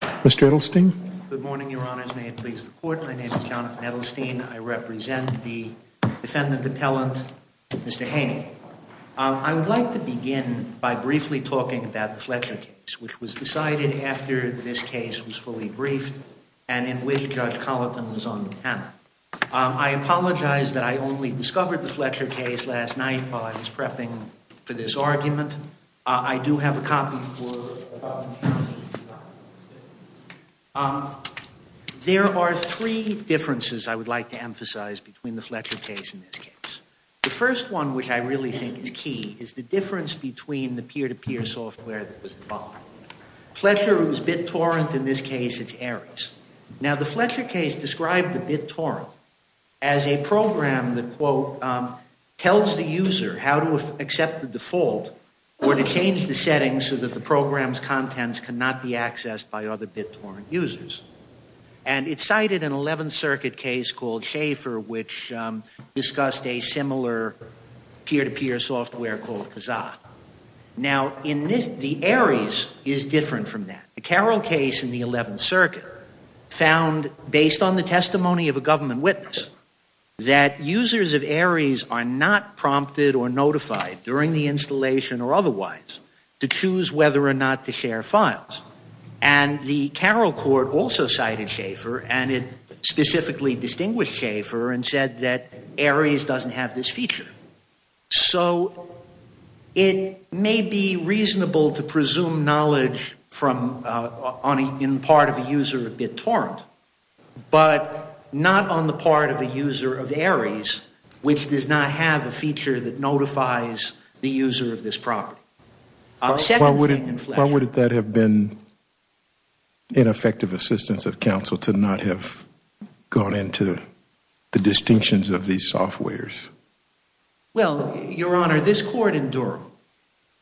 court. I represent the defendant appellant. I would like to begin by briefly talking about the Fletcher case which was decided after this case was fully briefed and in which Judge Colleton was on the panel. I apologize that I only discovered the Fletcher case last night while I was prepping for this argument. I do have a copy for you. There are three differences I would like to emphasize between the Fletcher case and this case. The first one which I really think is key is the difference between the peer-to-peer software that was involved. Fletcher was BitTorrent. In this case, it's Ares. Now, the Fletcher case described the BitTorrent as a program that, quote, tells the user how to accept the default or to change the settings so that the program's contents cannot be accessed by other BitTorrent users. And it cited an 11th Circuit case called Schaefer which discussed a similar peer-to-peer software called Kazaa. Now, the Ares is different from that. The Carroll case in the 11th Circuit found, based on the testimony of a government witness, that users of Ares are not prompted or notified during the installation or otherwise to choose whether or not to share files. And the Carroll court also cited Schaefer, and it specifically distinguished Schaefer and said that Ares doesn't have this feature. So it may be reasonable to presume knowledge in part of a user of BitTorrent, but not on the part of a user of Ares, which does not have a feature that notifies the user of this property. Why would that have been ineffective assistance of counsel to not have gone into the distinctions of these softwares? Well, Your Honor, this court in Durham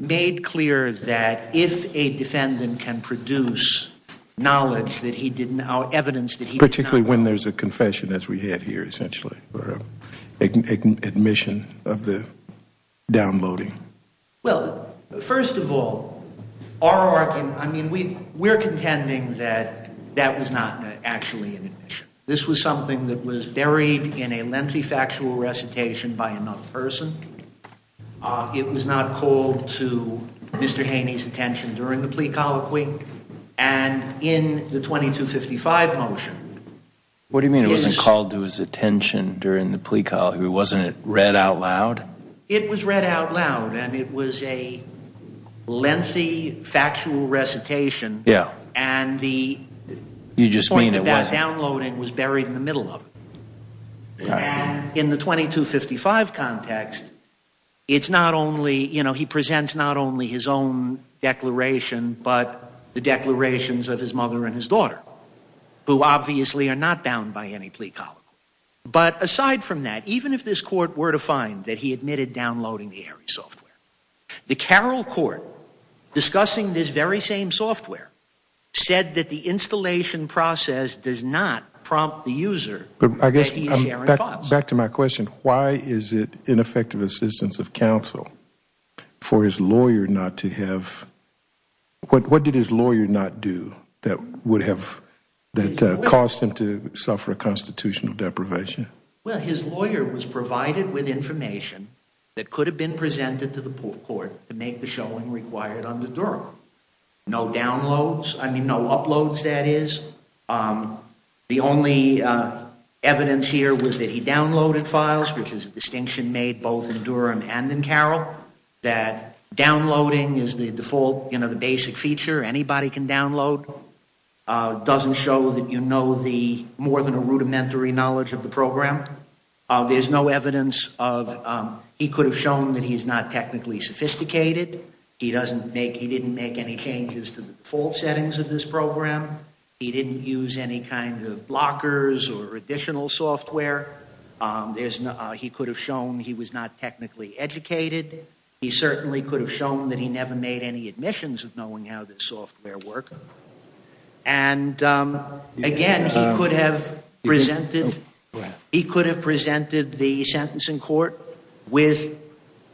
made clear that if a defendant can produce knowledge that he did not know, evidence that he did not know. Particularly when there's a confession, as we have here, essentially, or admission of the downloading. Well, first of all, our argument, I mean, we're contending that that was not actually an admission. This was something that was buried in a lengthy factual recitation by another person. It was not called to Mr. Haney's attention during the plea colloquy. And in the 2255 motion. What do you mean it wasn't called to his attention during the plea colloquy? Wasn't it read out loud? It was read out loud, and it was a lengthy factual recitation. Yeah. And the point about downloading was buried in the middle of it. In the 2255 context, it's not only, you know, he presents not only his own declaration, but the declarations of his mother and his daughter, who obviously are not bound by any plea colloquy. But aside from that, even if this court were to find that he admitted downloading the ARI software, the Carroll Court, discussing this very same software, said that the installation process does not prompt the user that he is sharing thoughts. Back to my question, why is it ineffective assistance of counsel for his lawyer not to have, what did his lawyer not do that would have, that caused him to suffer a constitutional deprivation? Well, his lawyer was provided with information that could have been presented to the court to make the showing required under Durham. No downloads, I mean, no uploads, that is. The only evidence here was that he downloaded files, which is a distinction made both in Durham and in Carroll, that downloading is the default, you know, the basic feature. Anybody can download. It doesn't show that you know the, more than a rudimentary knowledge of the program. There's no evidence of, he could have shown that he's not technically sophisticated. He doesn't make, he didn't make any changes to the default settings of this program. He didn't use any kind of blockers or additional software. There's no, he could have shown he was not technically educated. He certainly could have shown that he never made any admissions of knowing how this software worked. And again, he could have presented, he could have presented the sentencing court with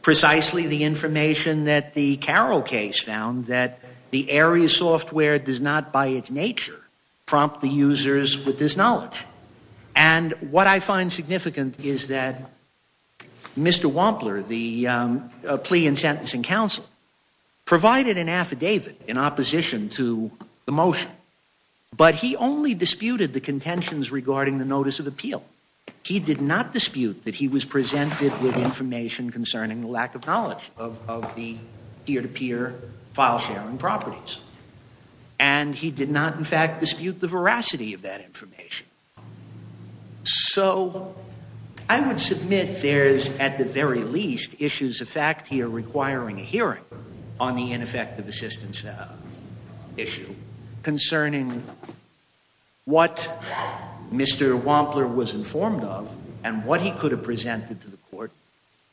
precisely the information that the Carroll case found that the area software does not by its nature prompt the users with this knowledge. And what I find significant is that Mr. Wampler, the plea and sentencing counsel, provided an affidavit in opposition to the motion. But he only disputed the contentions regarding the notice of appeal. He did not dispute that he was presented with information concerning the lack of knowledge of the peer-to-peer file sharing properties. And he did not, in fact, dispute the veracity of that information. So I would submit there's, at the very least, issues of fact here requiring a hearing on the ineffective assistance issue concerning what Mr. Wampler was informed of and what he could have presented to the court.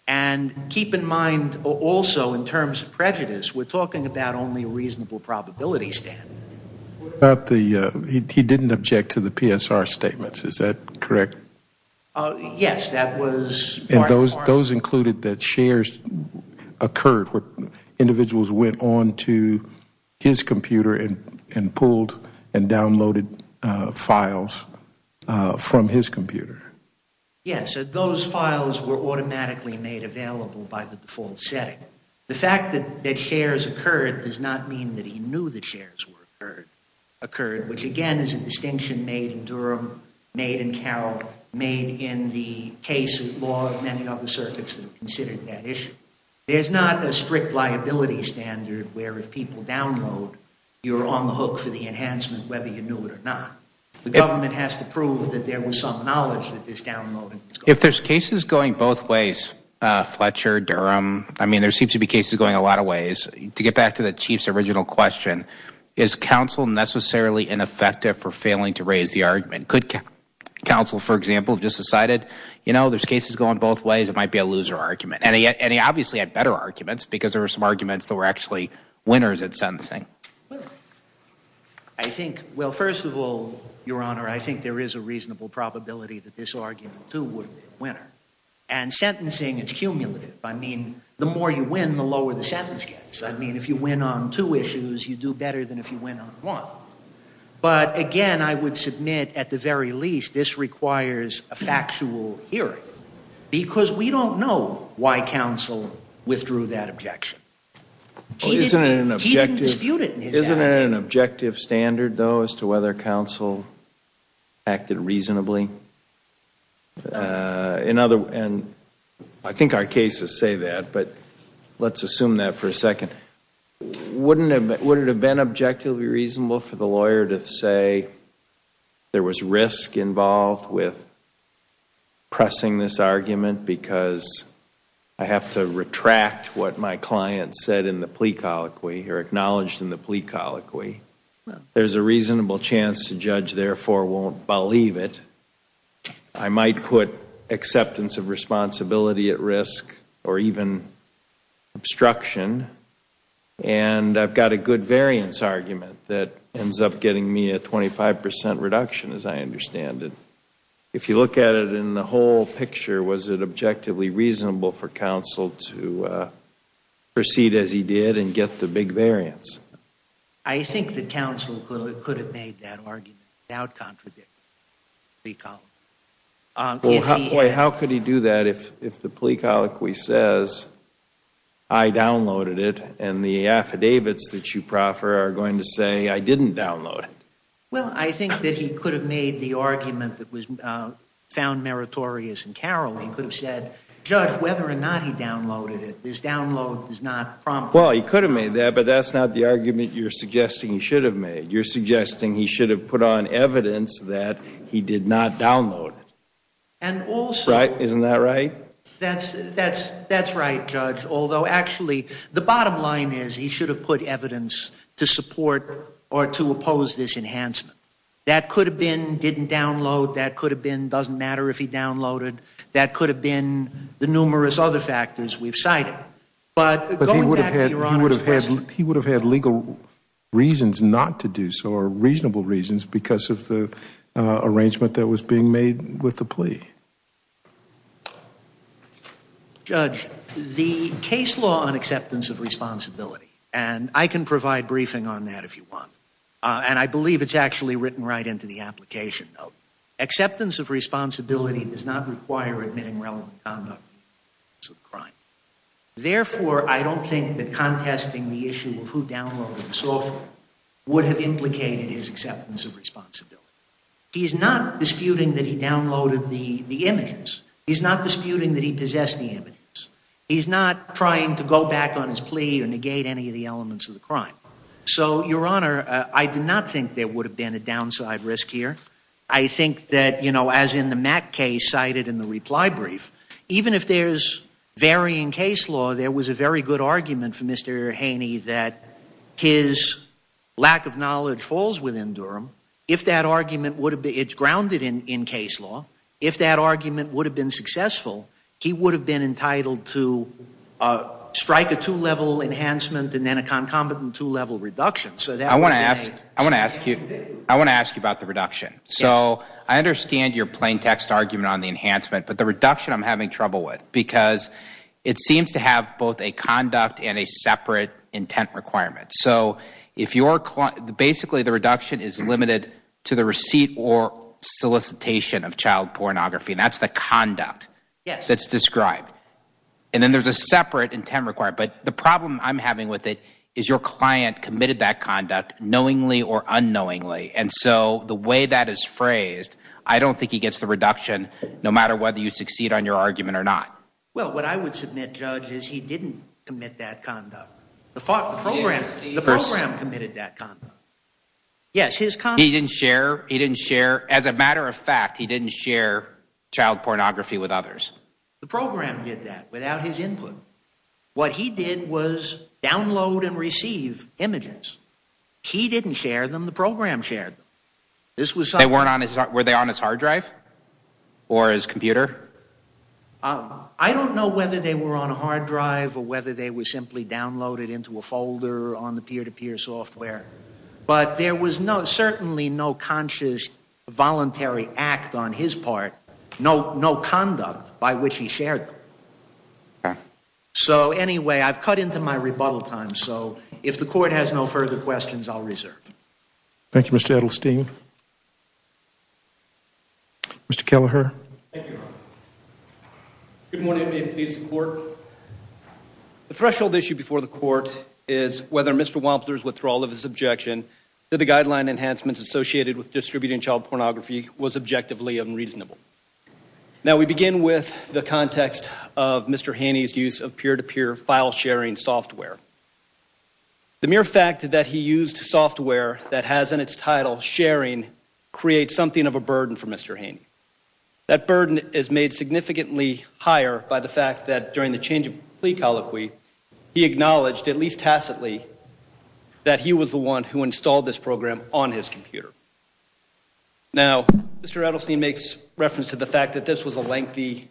And keep in mind also in terms of prejudice, we're talking about only a reasonable probability standard. He didn't object to the PSR statements, is that correct? Yes, that was part and parcel. And those included that shares occurred where individuals went on to his computer and pulled and downloaded files from his computer? Yes, those files were automatically made available by the default setting. The fact that shares occurred does not mean that he knew that shares occurred, which again is a distinction made in Durham, made in Carroll, made in the case law of many other circuits that have considered that issue. There's not a strict liability standard where if people download, you're on the hook for the enhancement whether you knew it or not. The government has to prove that there was some knowledge that this downloading was going on. Fletcher, Durham, I mean there seem to be cases going a lot of ways. To get back to the Chief's original question, is counsel necessarily ineffective for failing to raise the argument? Could counsel, for example, just decided, you know, there's cases going both ways, it might be a loser argument. And he obviously had better arguments because there were some arguments that were actually winners at sentencing. I think, well first of all, Your Honor, I think there is a reasonable probability that this argument too would be a winner. And sentencing is cumulative. I mean, the more you win, the lower the sentence gets. I mean, if you win on two issues, you do better than if you win on one. But again, I would submit at the very least this requires a factual hearing because we don't know why counsel withdrew that objection. He didn't dispute it. Isn't it an objective standard though as to whether counsel acted reasonably? And I think our cases say that, but let's assume that for a second. Wouldn't it have been objectively reasonable for the lawyer to say there was risk involved with pressing this argument because I have to retract what my client said in the plea colloquy or acknowledged in the plea colloquy. There's a reasonable chance the judge therefore won't believe it. I might put acceptance of responsibility at risk or even obstruction, and I've got a good variance argument that ends up getting me a 25% reduction as I understand it. If you look at it in the whole picture, was it objectively reasonable for counsel to proceed as he did and get the big variance? I think that counsel could have made that argument without contradicting the plea colloquy. How could he do that if the plea colloquy says I downloaded it and the affidavits that you proffer are going to say I didn't download it? Well, I think that he could have made the argument that was found meritorious and caroling. He could have said, judge, whether or not he downloaded it, this download is not prompt. Well, he could have made that, but that's not the argument you're suggesting he should have made. You're suggesting he should have put on evidence that he did not download it. Isn't that right? That's right, judge, although actually the bottom line is he should have put evidence to support or to oppose this enhancement. That could have been didn't download. That could have been doesn't matter if he downloaded. That could have been the numerous other factors we've cited. But he would have had legal reasons not to do so or reasonable reasons because of the arrangement that was being made with the plea. Judge, the case law on acceptance of responsibility, and I can provide briefing on that if you want, and I believe it's actually written right into the application note, acceptance of responsibility does not require admitting relevant conduct to the crime. Therefore, I don't think that contesting the issue of who downloaded the software would have implicated his acceptance of responsibility. He's not disputing that he downloaded the images. He's not disputing that he possessed the images. He's not trying to go back on his plea or negate any of the elements of the crime. So, Your Honor, I do not think there would have been a downside risk here. I think that, you know, as in the Mack case cited in the reply brief, even if there's varying case law, there was a very good argument for Mr. Haney that his lack of knowledge falls within Durham. If that argument would have been grounded in case law, if that argument would have been successful, he would have been entitled to strike a two-level enhancement and then a concomitant two-level reduction. I want to ask you about the reduction. So I understand your plain text argument on the enhancement, but the reduction I'm having trouble with because it seems to have both a conduct and a separate intent requirement. So basically the reduction is limited to the receipt or solicitation of child pornography, and that's the conduct that's described. And then there's a separate intent requirement. But the problem I'm having with it is your client committed that conduct knowingly or unknowingly, and so the way that is phrased, I don't think he gets the reduction no matter whether you succeed on your argument or not. Well, what I would submit, Judge, is he didn't commit that conduct. The program committed that conduct. Yes, his conduct. He didn't share. As a matter of fact, he didn't share child pornography with others. The program did that without his input. What he did was download and receive images. He didn't share them. The program shared them. Were they on his hard drive or his computer? I don't know whether they were on a hard drive or whether they were simply downloaded into a folder on the peer-to-peer software, but there was certainly no conscious voluntary act on his part, no conduct by which he shared them. So, anyway, I've cut into my rebuttal time, so if the Court has no further questions, I'll reserve. Thank you, Mr. Edelstein. Mr. Kelleher. Thank you, Your Honor. Good morning. May it please the Court. The threshold issue before the Court is whether Mr. Wampler's withdrawal of his objection to the guideline enhancements associated with distributing child pornography was objectively unreasonable. Now, we begin with the context of Mr. Haney's use of peer-to-peer file-sharing software. The mere fact that he used software that has in its title sharing creates something of a burden for Mr. Haney. That burden is made significantly higher by the fact that, during the change of plea colloquy, he acknowledged, at least tacitly, that he was the one who installed this program on his computer. Now, Mr. Edelstein makes reference to the fact that this was a lengthy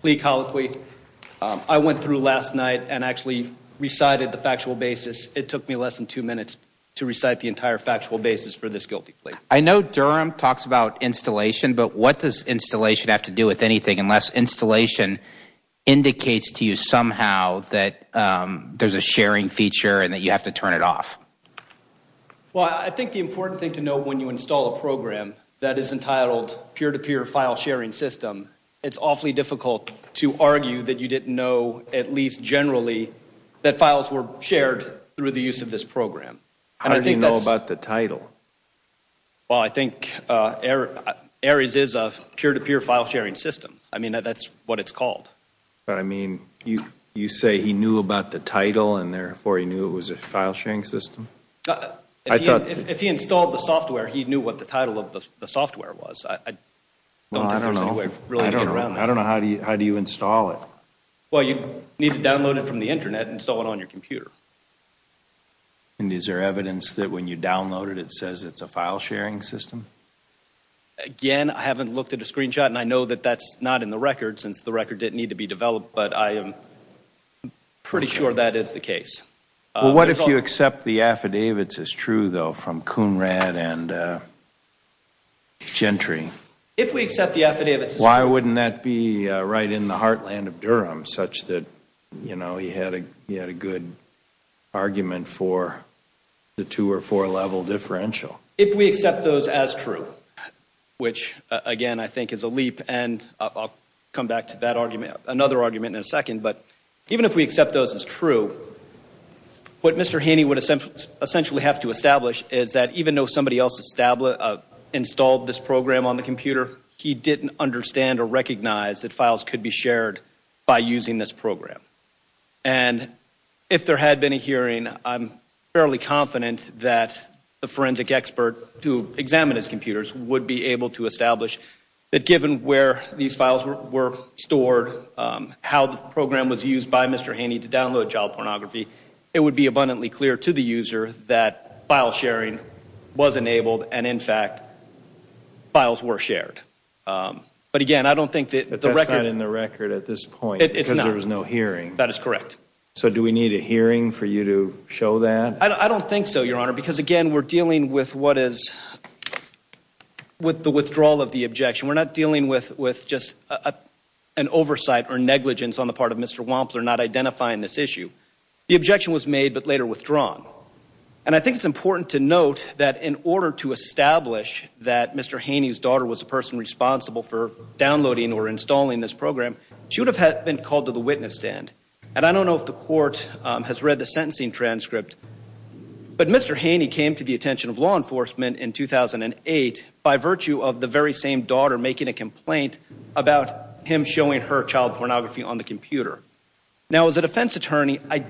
plea colloquy. I went through last night and actually recited the factual basis. It took me less than two minutes to recite the entire factual basis for this guilty plea. I know Durham talks about installation, but what does installation have to do with anything unless installation indicates to you somehow that there's a sharing feature and that you have to turn it off? Well, I think the important thing to know when you install a program that is entitled peer-to-peer file-sharing system, it's awfully difficult to argue that you didn't know, at least generally, that files were shared through the use of this program. How do you know about the title? Well, I think Ares is a peer-to-peer file-sharing system. I mean, that's what it's called. But, I mean, you say he knew about the title and, therefore, he knew it was a file-sharing system? If he installed the software, he knew what the title of the software was. I don't think there's any way really to get around that. I don't know. How do you install it? Well, you need to download it from the Internet and install it on your computer. And is there evidence that when you download it, it says it's a file-sharing system? Again, I haven't looked at a screenshot, and I know that that's not in the record since the record didn't need to be developed, but I am pretty sure that is the case. Well, what if you accept the affidavits as true, though, from Kunrad and Gentry? If we accept the affidavits as true. Why wouldn't that be right in the heartland of Durham, such that he had a good argument for the two- or four-level differential? If we accept those as true, which, again, I think is a leap, and I'll come back to that argument, another argument in a second, but even if we accept those as true, what Mr. Haney would essentially have to establish is that even though somebody else installed this program on the computer, he didn't understand or recognize that files could be shared by using this program. And if there had been a hearing, I'm fairly confident that the forensic expert who examined his computers would be able to establish that given where these files were stored, how the program was used by Mr. Haney to download child pornography, it would be abundantly clear to the user that file-sharing was enabled and, in fact, files were shared. But, again, I don't think that the record... But that's not in the record at this point. It's not. Because there was no hearing. That is correct. So do we need a hearing for you to show that? I don't think so, Your Honor, because, again, we're dealing with the withdrawal of the objection. We're not dealing with just an oversight or negligence on the part of Mr. Wampler not identifying this issue. The objection was made but later withdrawn. And I think it's important to note that in order to establish that Mr. Haney's daughter was the person responsible for downloading or installing this program, she would have been called to the witness stand. And I don't know if the court has read the sentencing transcript, but Mr. Haney came to the attention of law enforcement in 2008 by virtue of the very same daughter making a complaint about him showing her child pornography on the computer. Now, as a defense attorney, I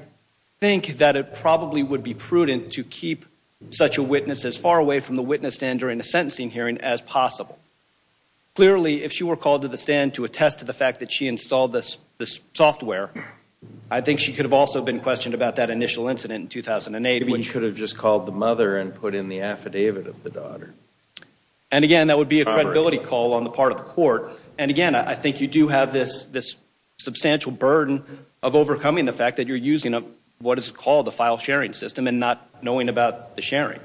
think that it probably would be prudent to keep such a witness as far away from the witness stand during the sentencing hearing as possible. Clearly, if she were called to the stand to attest to the fact that she installed this software, I think she could have also been questioned about that initial incident in 2008. Maybe he could have just called the mother and put in the affidavit of the daughter. And, again, that would be a credibility call on the part of the court. And, again, I think you do have this substantial burden of overcoming the fact that you're using what is called the file sharing system and not knowing about the sharing.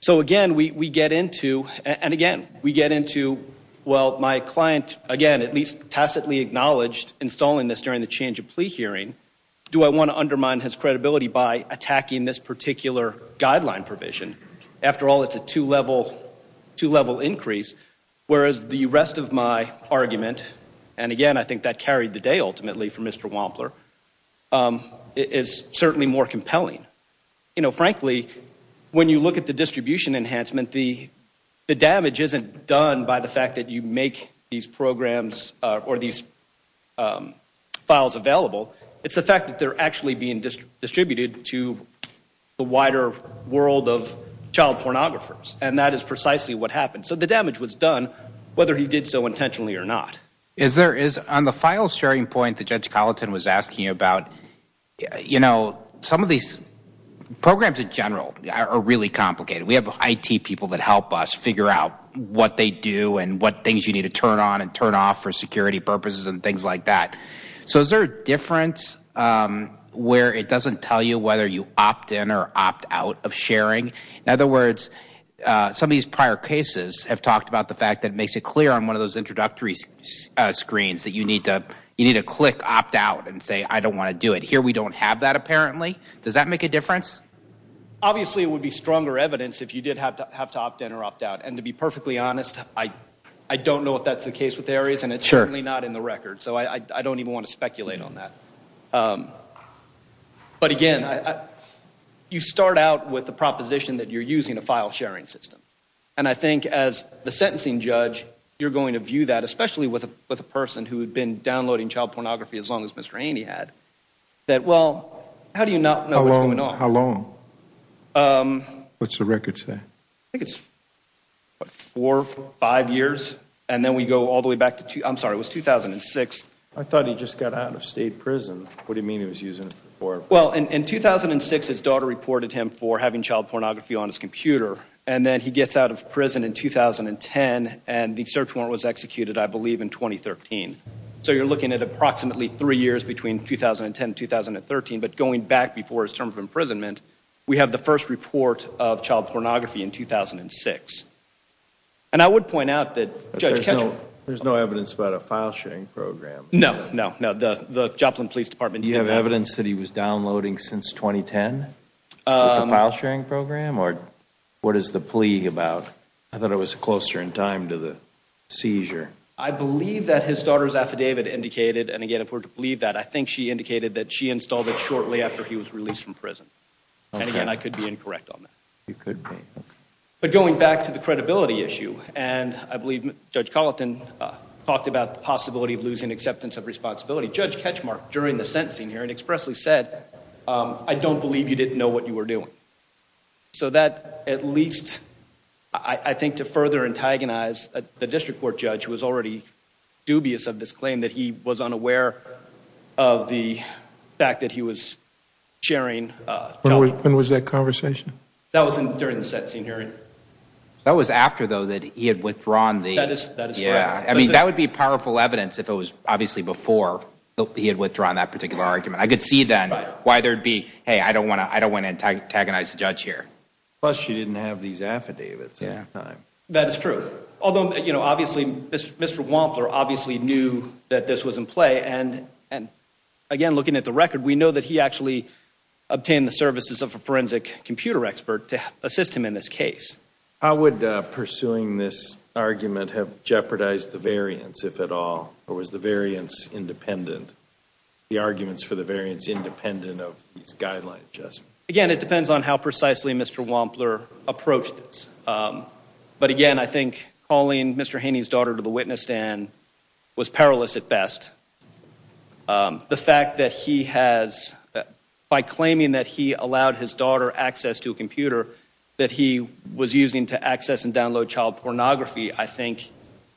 So, again, we get into, and, again, we get into, well, my client, again, at least tacitly acknowledged installing this during the change of plea hearing. Do I want to undermine his credibility by attacking this particular guideline provision? After all, it's a two-level increase, whereas the rest of my argument, and, again, I think that carried the day, ultimately, for Mr. Wampler, is certainly more compelling. You know, frankly, when you look at the distribution enhancement, the damage isn't done by the fact that you make these programs or these files available. It's the fact that they're actually being distributed to the wider world of child pornographers, and that is precisely what happened. So the damage was done whether he did so intentionally or not. On the file sharing point that Judge Colleton was asking about, you know, some of these programs in general are really complicated. We have IT people that help us figure out what they do and what things you need to turn on and turn off for security purposes and things like that. So is there a difference where it doesn't tell you whether you opt in or opt out of sharing? In other words, some of these prior cases have talked about the fact that it makes it clear on one of those introductory screens that you need to click opt out and say, I don't want to do it. Here we don't have that, apparently. Does that make a difference? Obviously, it would be stronger evidence if you did have to opt in or opt out. And to be perfectly honest, I don't know if that's the case with Aries, and it's certainly not in the record. So I don't even want to speculate on that. But again, you start out with the proposition that you're using a file sharing system. And I think as the sentencing judge, you're going to view that, especially with a person who had been downloading child pornography as long as Mr. Ainey had, that, well, how do you not know what's going on? How long? What's the record say? I think it's four, five years. And then we go all the way back to 2006. I thought he just got out of state prison. What do you mean he was using it before? Well, in 2006 his daughter reported him for having child pornography on his computer. And then he gets out of prison in 2010, and the search warrant was executed, I believe, in 2013. So you're looking at approximately three years between 2010 and 2013. But going back before his term of imprisonment, we have the first report of child pornography in 2006. And I would point out that Judge Ketchum There's no evidence about a file sharing program. No, no, no. The Joplin Police Department didn't. Do you have evidence that he was downloading since 2010, the file sharing program? Or what is the plea about? I thought it was closer in time to the seizure. I believe that his daughter's affidavit indicated, and, again, if we're to believe that, I think she indicated that she installed it shortly after he was released from prison. And, again, I could be incorrect on that. You could be. But going back to the credibility issue, and I believe Judge Colleton talked about the possibility of losing acceptance of responsibility. Judge Ketchum, during the sentencing hearing, expressly said, I don't believe you didn't know what you were doing. So that, at least, I think to further antagonize the district court judge, who was already dubious of this claim, that he was unaware of the fact that he was sharing. When was that conversation? That was during the sentencing hearing. That was after, though, that he had withdrawn the... That is correct. That would be powerful evidence if it was, obviously, before he had withdrawn that particular argument. I could see, then, why there would be, hey, I don't want to antagonize the judge here. Plus, she didn't have these affidavits at the time. That is true. Although, obviously, Mr. Wampler obviously knew that this was in play. And, again, looking at the record, we know that he actually obtained the services of a forensic computer expert to assist him in this case. How would pursuing this argument have jeopardized the variance, if at all? Or was the variance independent? The arguments for the variance independent of these guidelines? Again, it depends on how precisely Mr. Wampler approached this. But, again, I think calling Mr. Haney's daughter to the witness stand was perilous at best. The fact that he has, by claiming that he allowed his daughter access to a computer that he was using to access and download child pornography, I think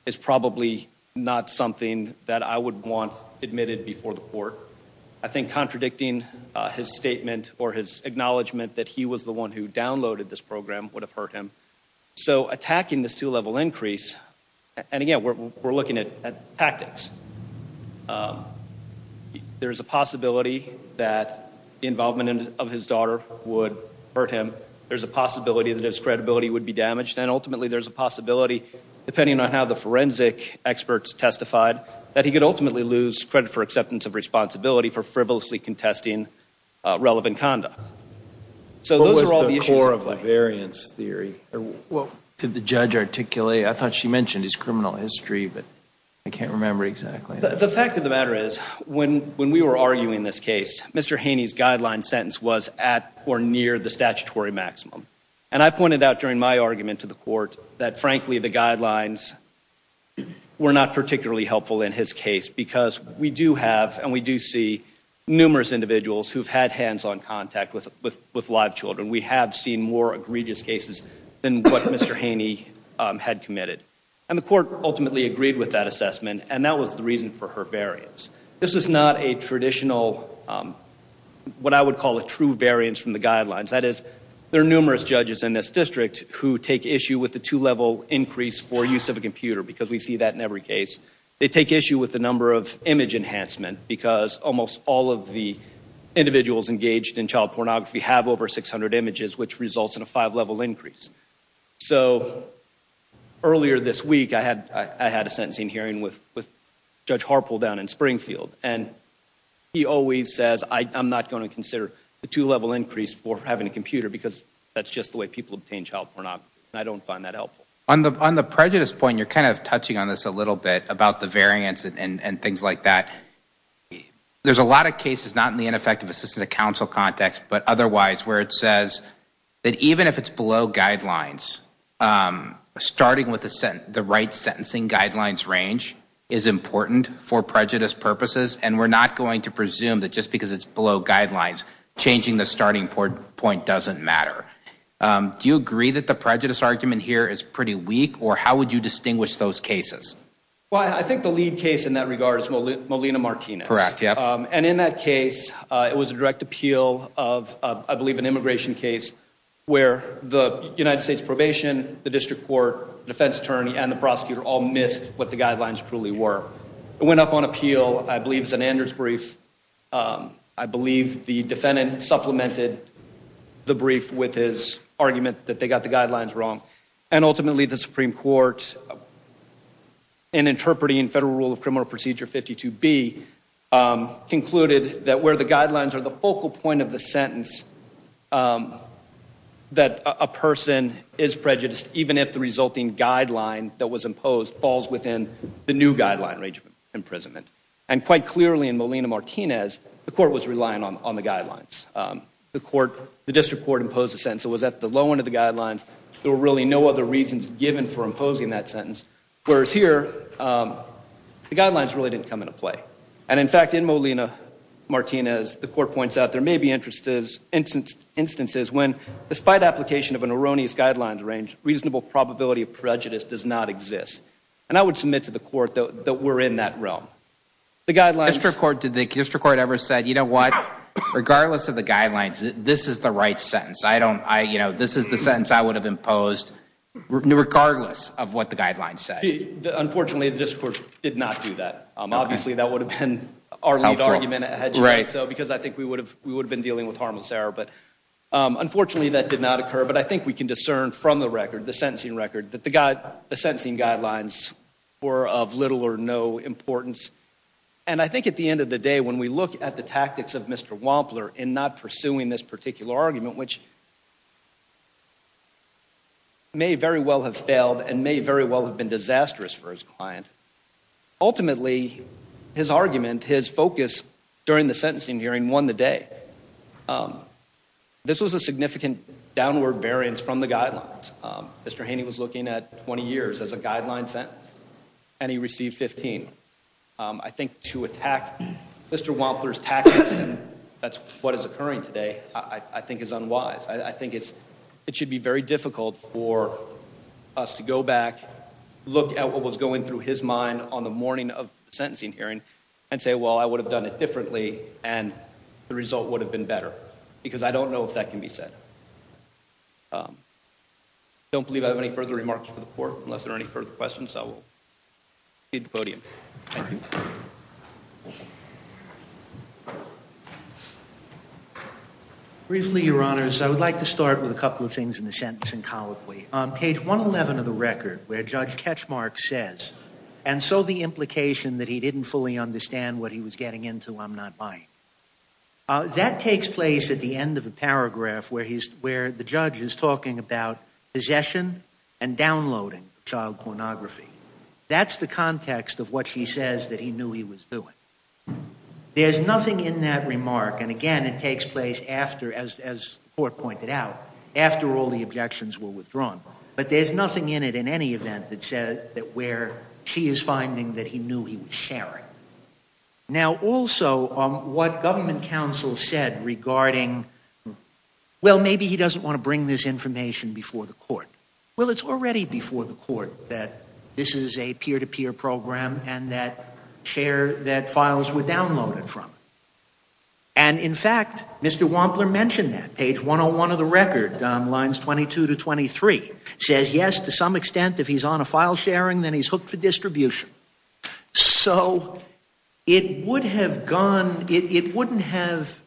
is probably not something that I would want admitted before the court. I think contradicting his statement or his acknowledgement that he was the one who downloaded this program would have hurt him. So attacking this two-level increase, and, again, we're looking at tactics. There's a possibility that the involvement of his daughter would hurt him. There's a possibility that his credibility would be damaged. And, ultimately, there's a possibility, depending on how the forensic experts testified, that he could ultimately lose credit for acceptance of responsibility for frivolously contesting relevant conduct. So those are all the issues of the variance theory. Could the judge articulate? I thought she mentioned his criminal history, but I can't remember exactly. The fact of the matter is, when we were arguing this case, Mr. Haney's guideline sentence was at or near the statutory maximum. And I pointed out during my argument to the court that, frankly, the guidelines were not particularly helpful in his case because we do have and we do see numerous individuals who've had hands-on contact with live children. We have seen more egregious cases than what Mr. Haney had committed. And the court ultimately agreed with that assessment, and that was the reason for her variance. This is not a traditional, what I would call a true variance from the guidelines. That is, there are numerous judges in this district who take issue with the two-level increase for use of a computer, because we see that in every case. They take issue with the number of image enhancement because almost all of the individuals engaged in child pornography have over 600 images, which results in a five-level increase. So earlier this week, I had a sentencing hearing with Judge Harpole down in Springfield, and he always says, I'm not going to consider the two-level increase for having a computer because that's just the way people obtain child pornography, and I don't find that helpful. On the prejudice point, you're kind of touching on this a little bit about the variance and things like that. There's a lot of cases, not in the ineffective assistance of counsel context, but otherwise, where it says that even if it's below guidelines, starting with the right sentencing guidelines range is important for prejudice purposes, and we're not going to presume that just because it's below guidelines, changing the starting point doesn't matter. Do you agree that the prejudice argument here is pretty weak, or how would you distinguish those cases? Well, I think the lead case in that regard is Molina Martinez. Correct, yeah. And in that case, it was a direct appeal of, I believe, an immigration case, where the United States probation, the district court, defense attorney, and the prosecutor all missed what the guidelines truly were. It went up on appeal, I believe, as an Anders brief. I believe the defendant supplemented the brief with his argument that they got the guidelines wrong, and ultimately the Supreme Court, in interpreting Federal Rule of Criminal Procedure 52B, concluded that where the guidelines are the focal point of the sentence, that a person is prejudiced even if the resulting guideline that was imposed falls within the new guideline range of imprisonment. And quite clearly in Molina Martinez, the court was relying on the guidelines. The district court imposed a sentence that was at the low end of the guidelines. There were really no other reasons given for imposing that sentence. Whereas here, the guidelines really didn't come into play. And in fact, in Molina Martinez, the court points out, there may be instances when, despite application of an erroneous guidelines range, reasonable probability of prejudice does not exist. And I would submit to the court that we're in that realm. The district court ever said, you know what, regardless of the guidelines, this is the right sentence. This is the sentence I would have imposed regardless of what the guidelines said. Unfortunately, the district court did not do that. Obviously, that would have been our lead argument, because I think we would have been dealing with harmless error. But unfortunately, that did not occur. But I think we can discern from the record, the sentencing record, that the sentencing guidelines were of little or no importance. And I think at the end of the day, when we look at the tactics of Mr. Wampler in not pursuing this particular argument, which may very well have failed and may very well have been disastrous for his client, ultimately his argument, his focus during the sentencing hearing won the day. This was a significant downward variance from the guidelines. Mr. Haney was looking at 20 years as a guideline sentence, and he received 15. I think to attack Mr. Wampler's tactics, and that's what is occurring today, I think is unwise. I think it should be very difficult for us to go back, look at what was going through his mind on the morning of the sentencing hearing, and say, well, I would have done it differently, and the result would have been better. Because I don't know if that can be said. I don't believe I have any further remarks for the court, unless there are any further questions. I will leave the podium. Thank you. Briefly, Your Honors, I would like to start with a couple of things in the sentencing colloquy. On page 111 of the record, where Judge Ketchmark says, and so the implication that he didn't fully understand what he was getting into, I'm not buying. That takes place at the end of the paragraph where the judge is talking about possession and downloading of child pornography. That's the context of what she says that he knew he was doing. There's nothing in that remark, and again, it takes place after, as the court pointed out, after all the objections were withdrawn. But there's nothing in it in any event that says that where she is finding that he knew he was sharing. Now, also, what government counsel said regarding, well, maybe he doesn't want to bring this information before the court. Well, it's already before the court that this is a peer-to-peer program, and that files were downloaded from it. And, in fact, Mr. Wampler mentioned that. Page 101 of the record, lines 22 to 23, says, yes, to some extent, if he's on a file sharing, then he's hooked for distribution. So it would have gone, it wouldn't have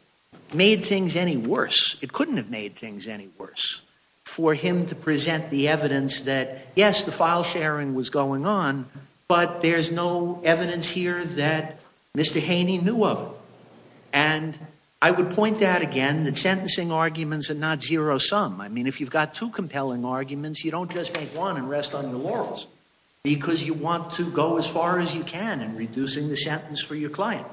made things any worse. It couldn't have made things any worse for him to present the evidence that, yes, the file sharing was going on, but there's no evidence here that Mr. Haney knew of it. And I would point out again that sentencing arguments are not zero-sum. I mean, if you've got two compelling arguments, you don't just make one and rest on your laurels, because you want to go as far as you can in reducing the sentence for your client.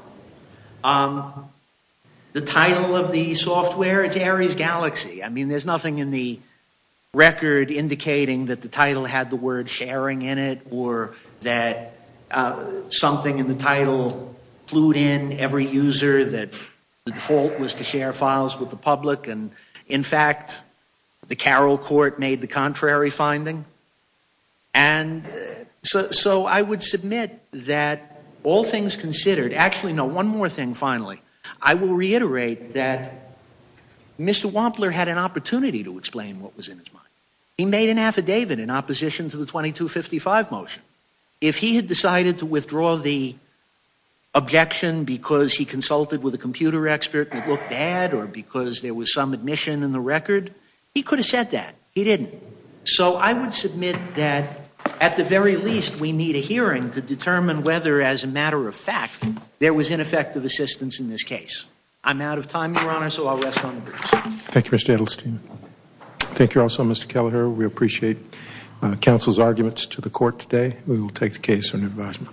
The title of the software, it's Aries Galaxy. I mean, there's nothing in the record indicating that the title had the word sharing in it or that something in the title clued in every user that the default was to share files with the public. And, in fact, the Carroll Court made the contrary finding. And so I would submit that all things considered, actually, no, one more thing, finally. I will reiterate that Mr. Wampler had an opportunity to explain what was in his mind. He made an affidavit in opposition to the 2255 motion. If he had decided to withdraw the objection because he consulted with a computer expert and it looked bad or because there was some admission in the record, he could have said that. He didn't. So I would submit that, at the very least, we need a hearing to determine whether, as a matter of fact, there was ineffective assistance in this case. I'm out of time, Your Honor, so I'll rest on my laurels. Thank you, Mr. Edelstein. Thank you also, Mr. Kelleher. We appreciate counsel's arguments to the court today. We will take the case under advisement.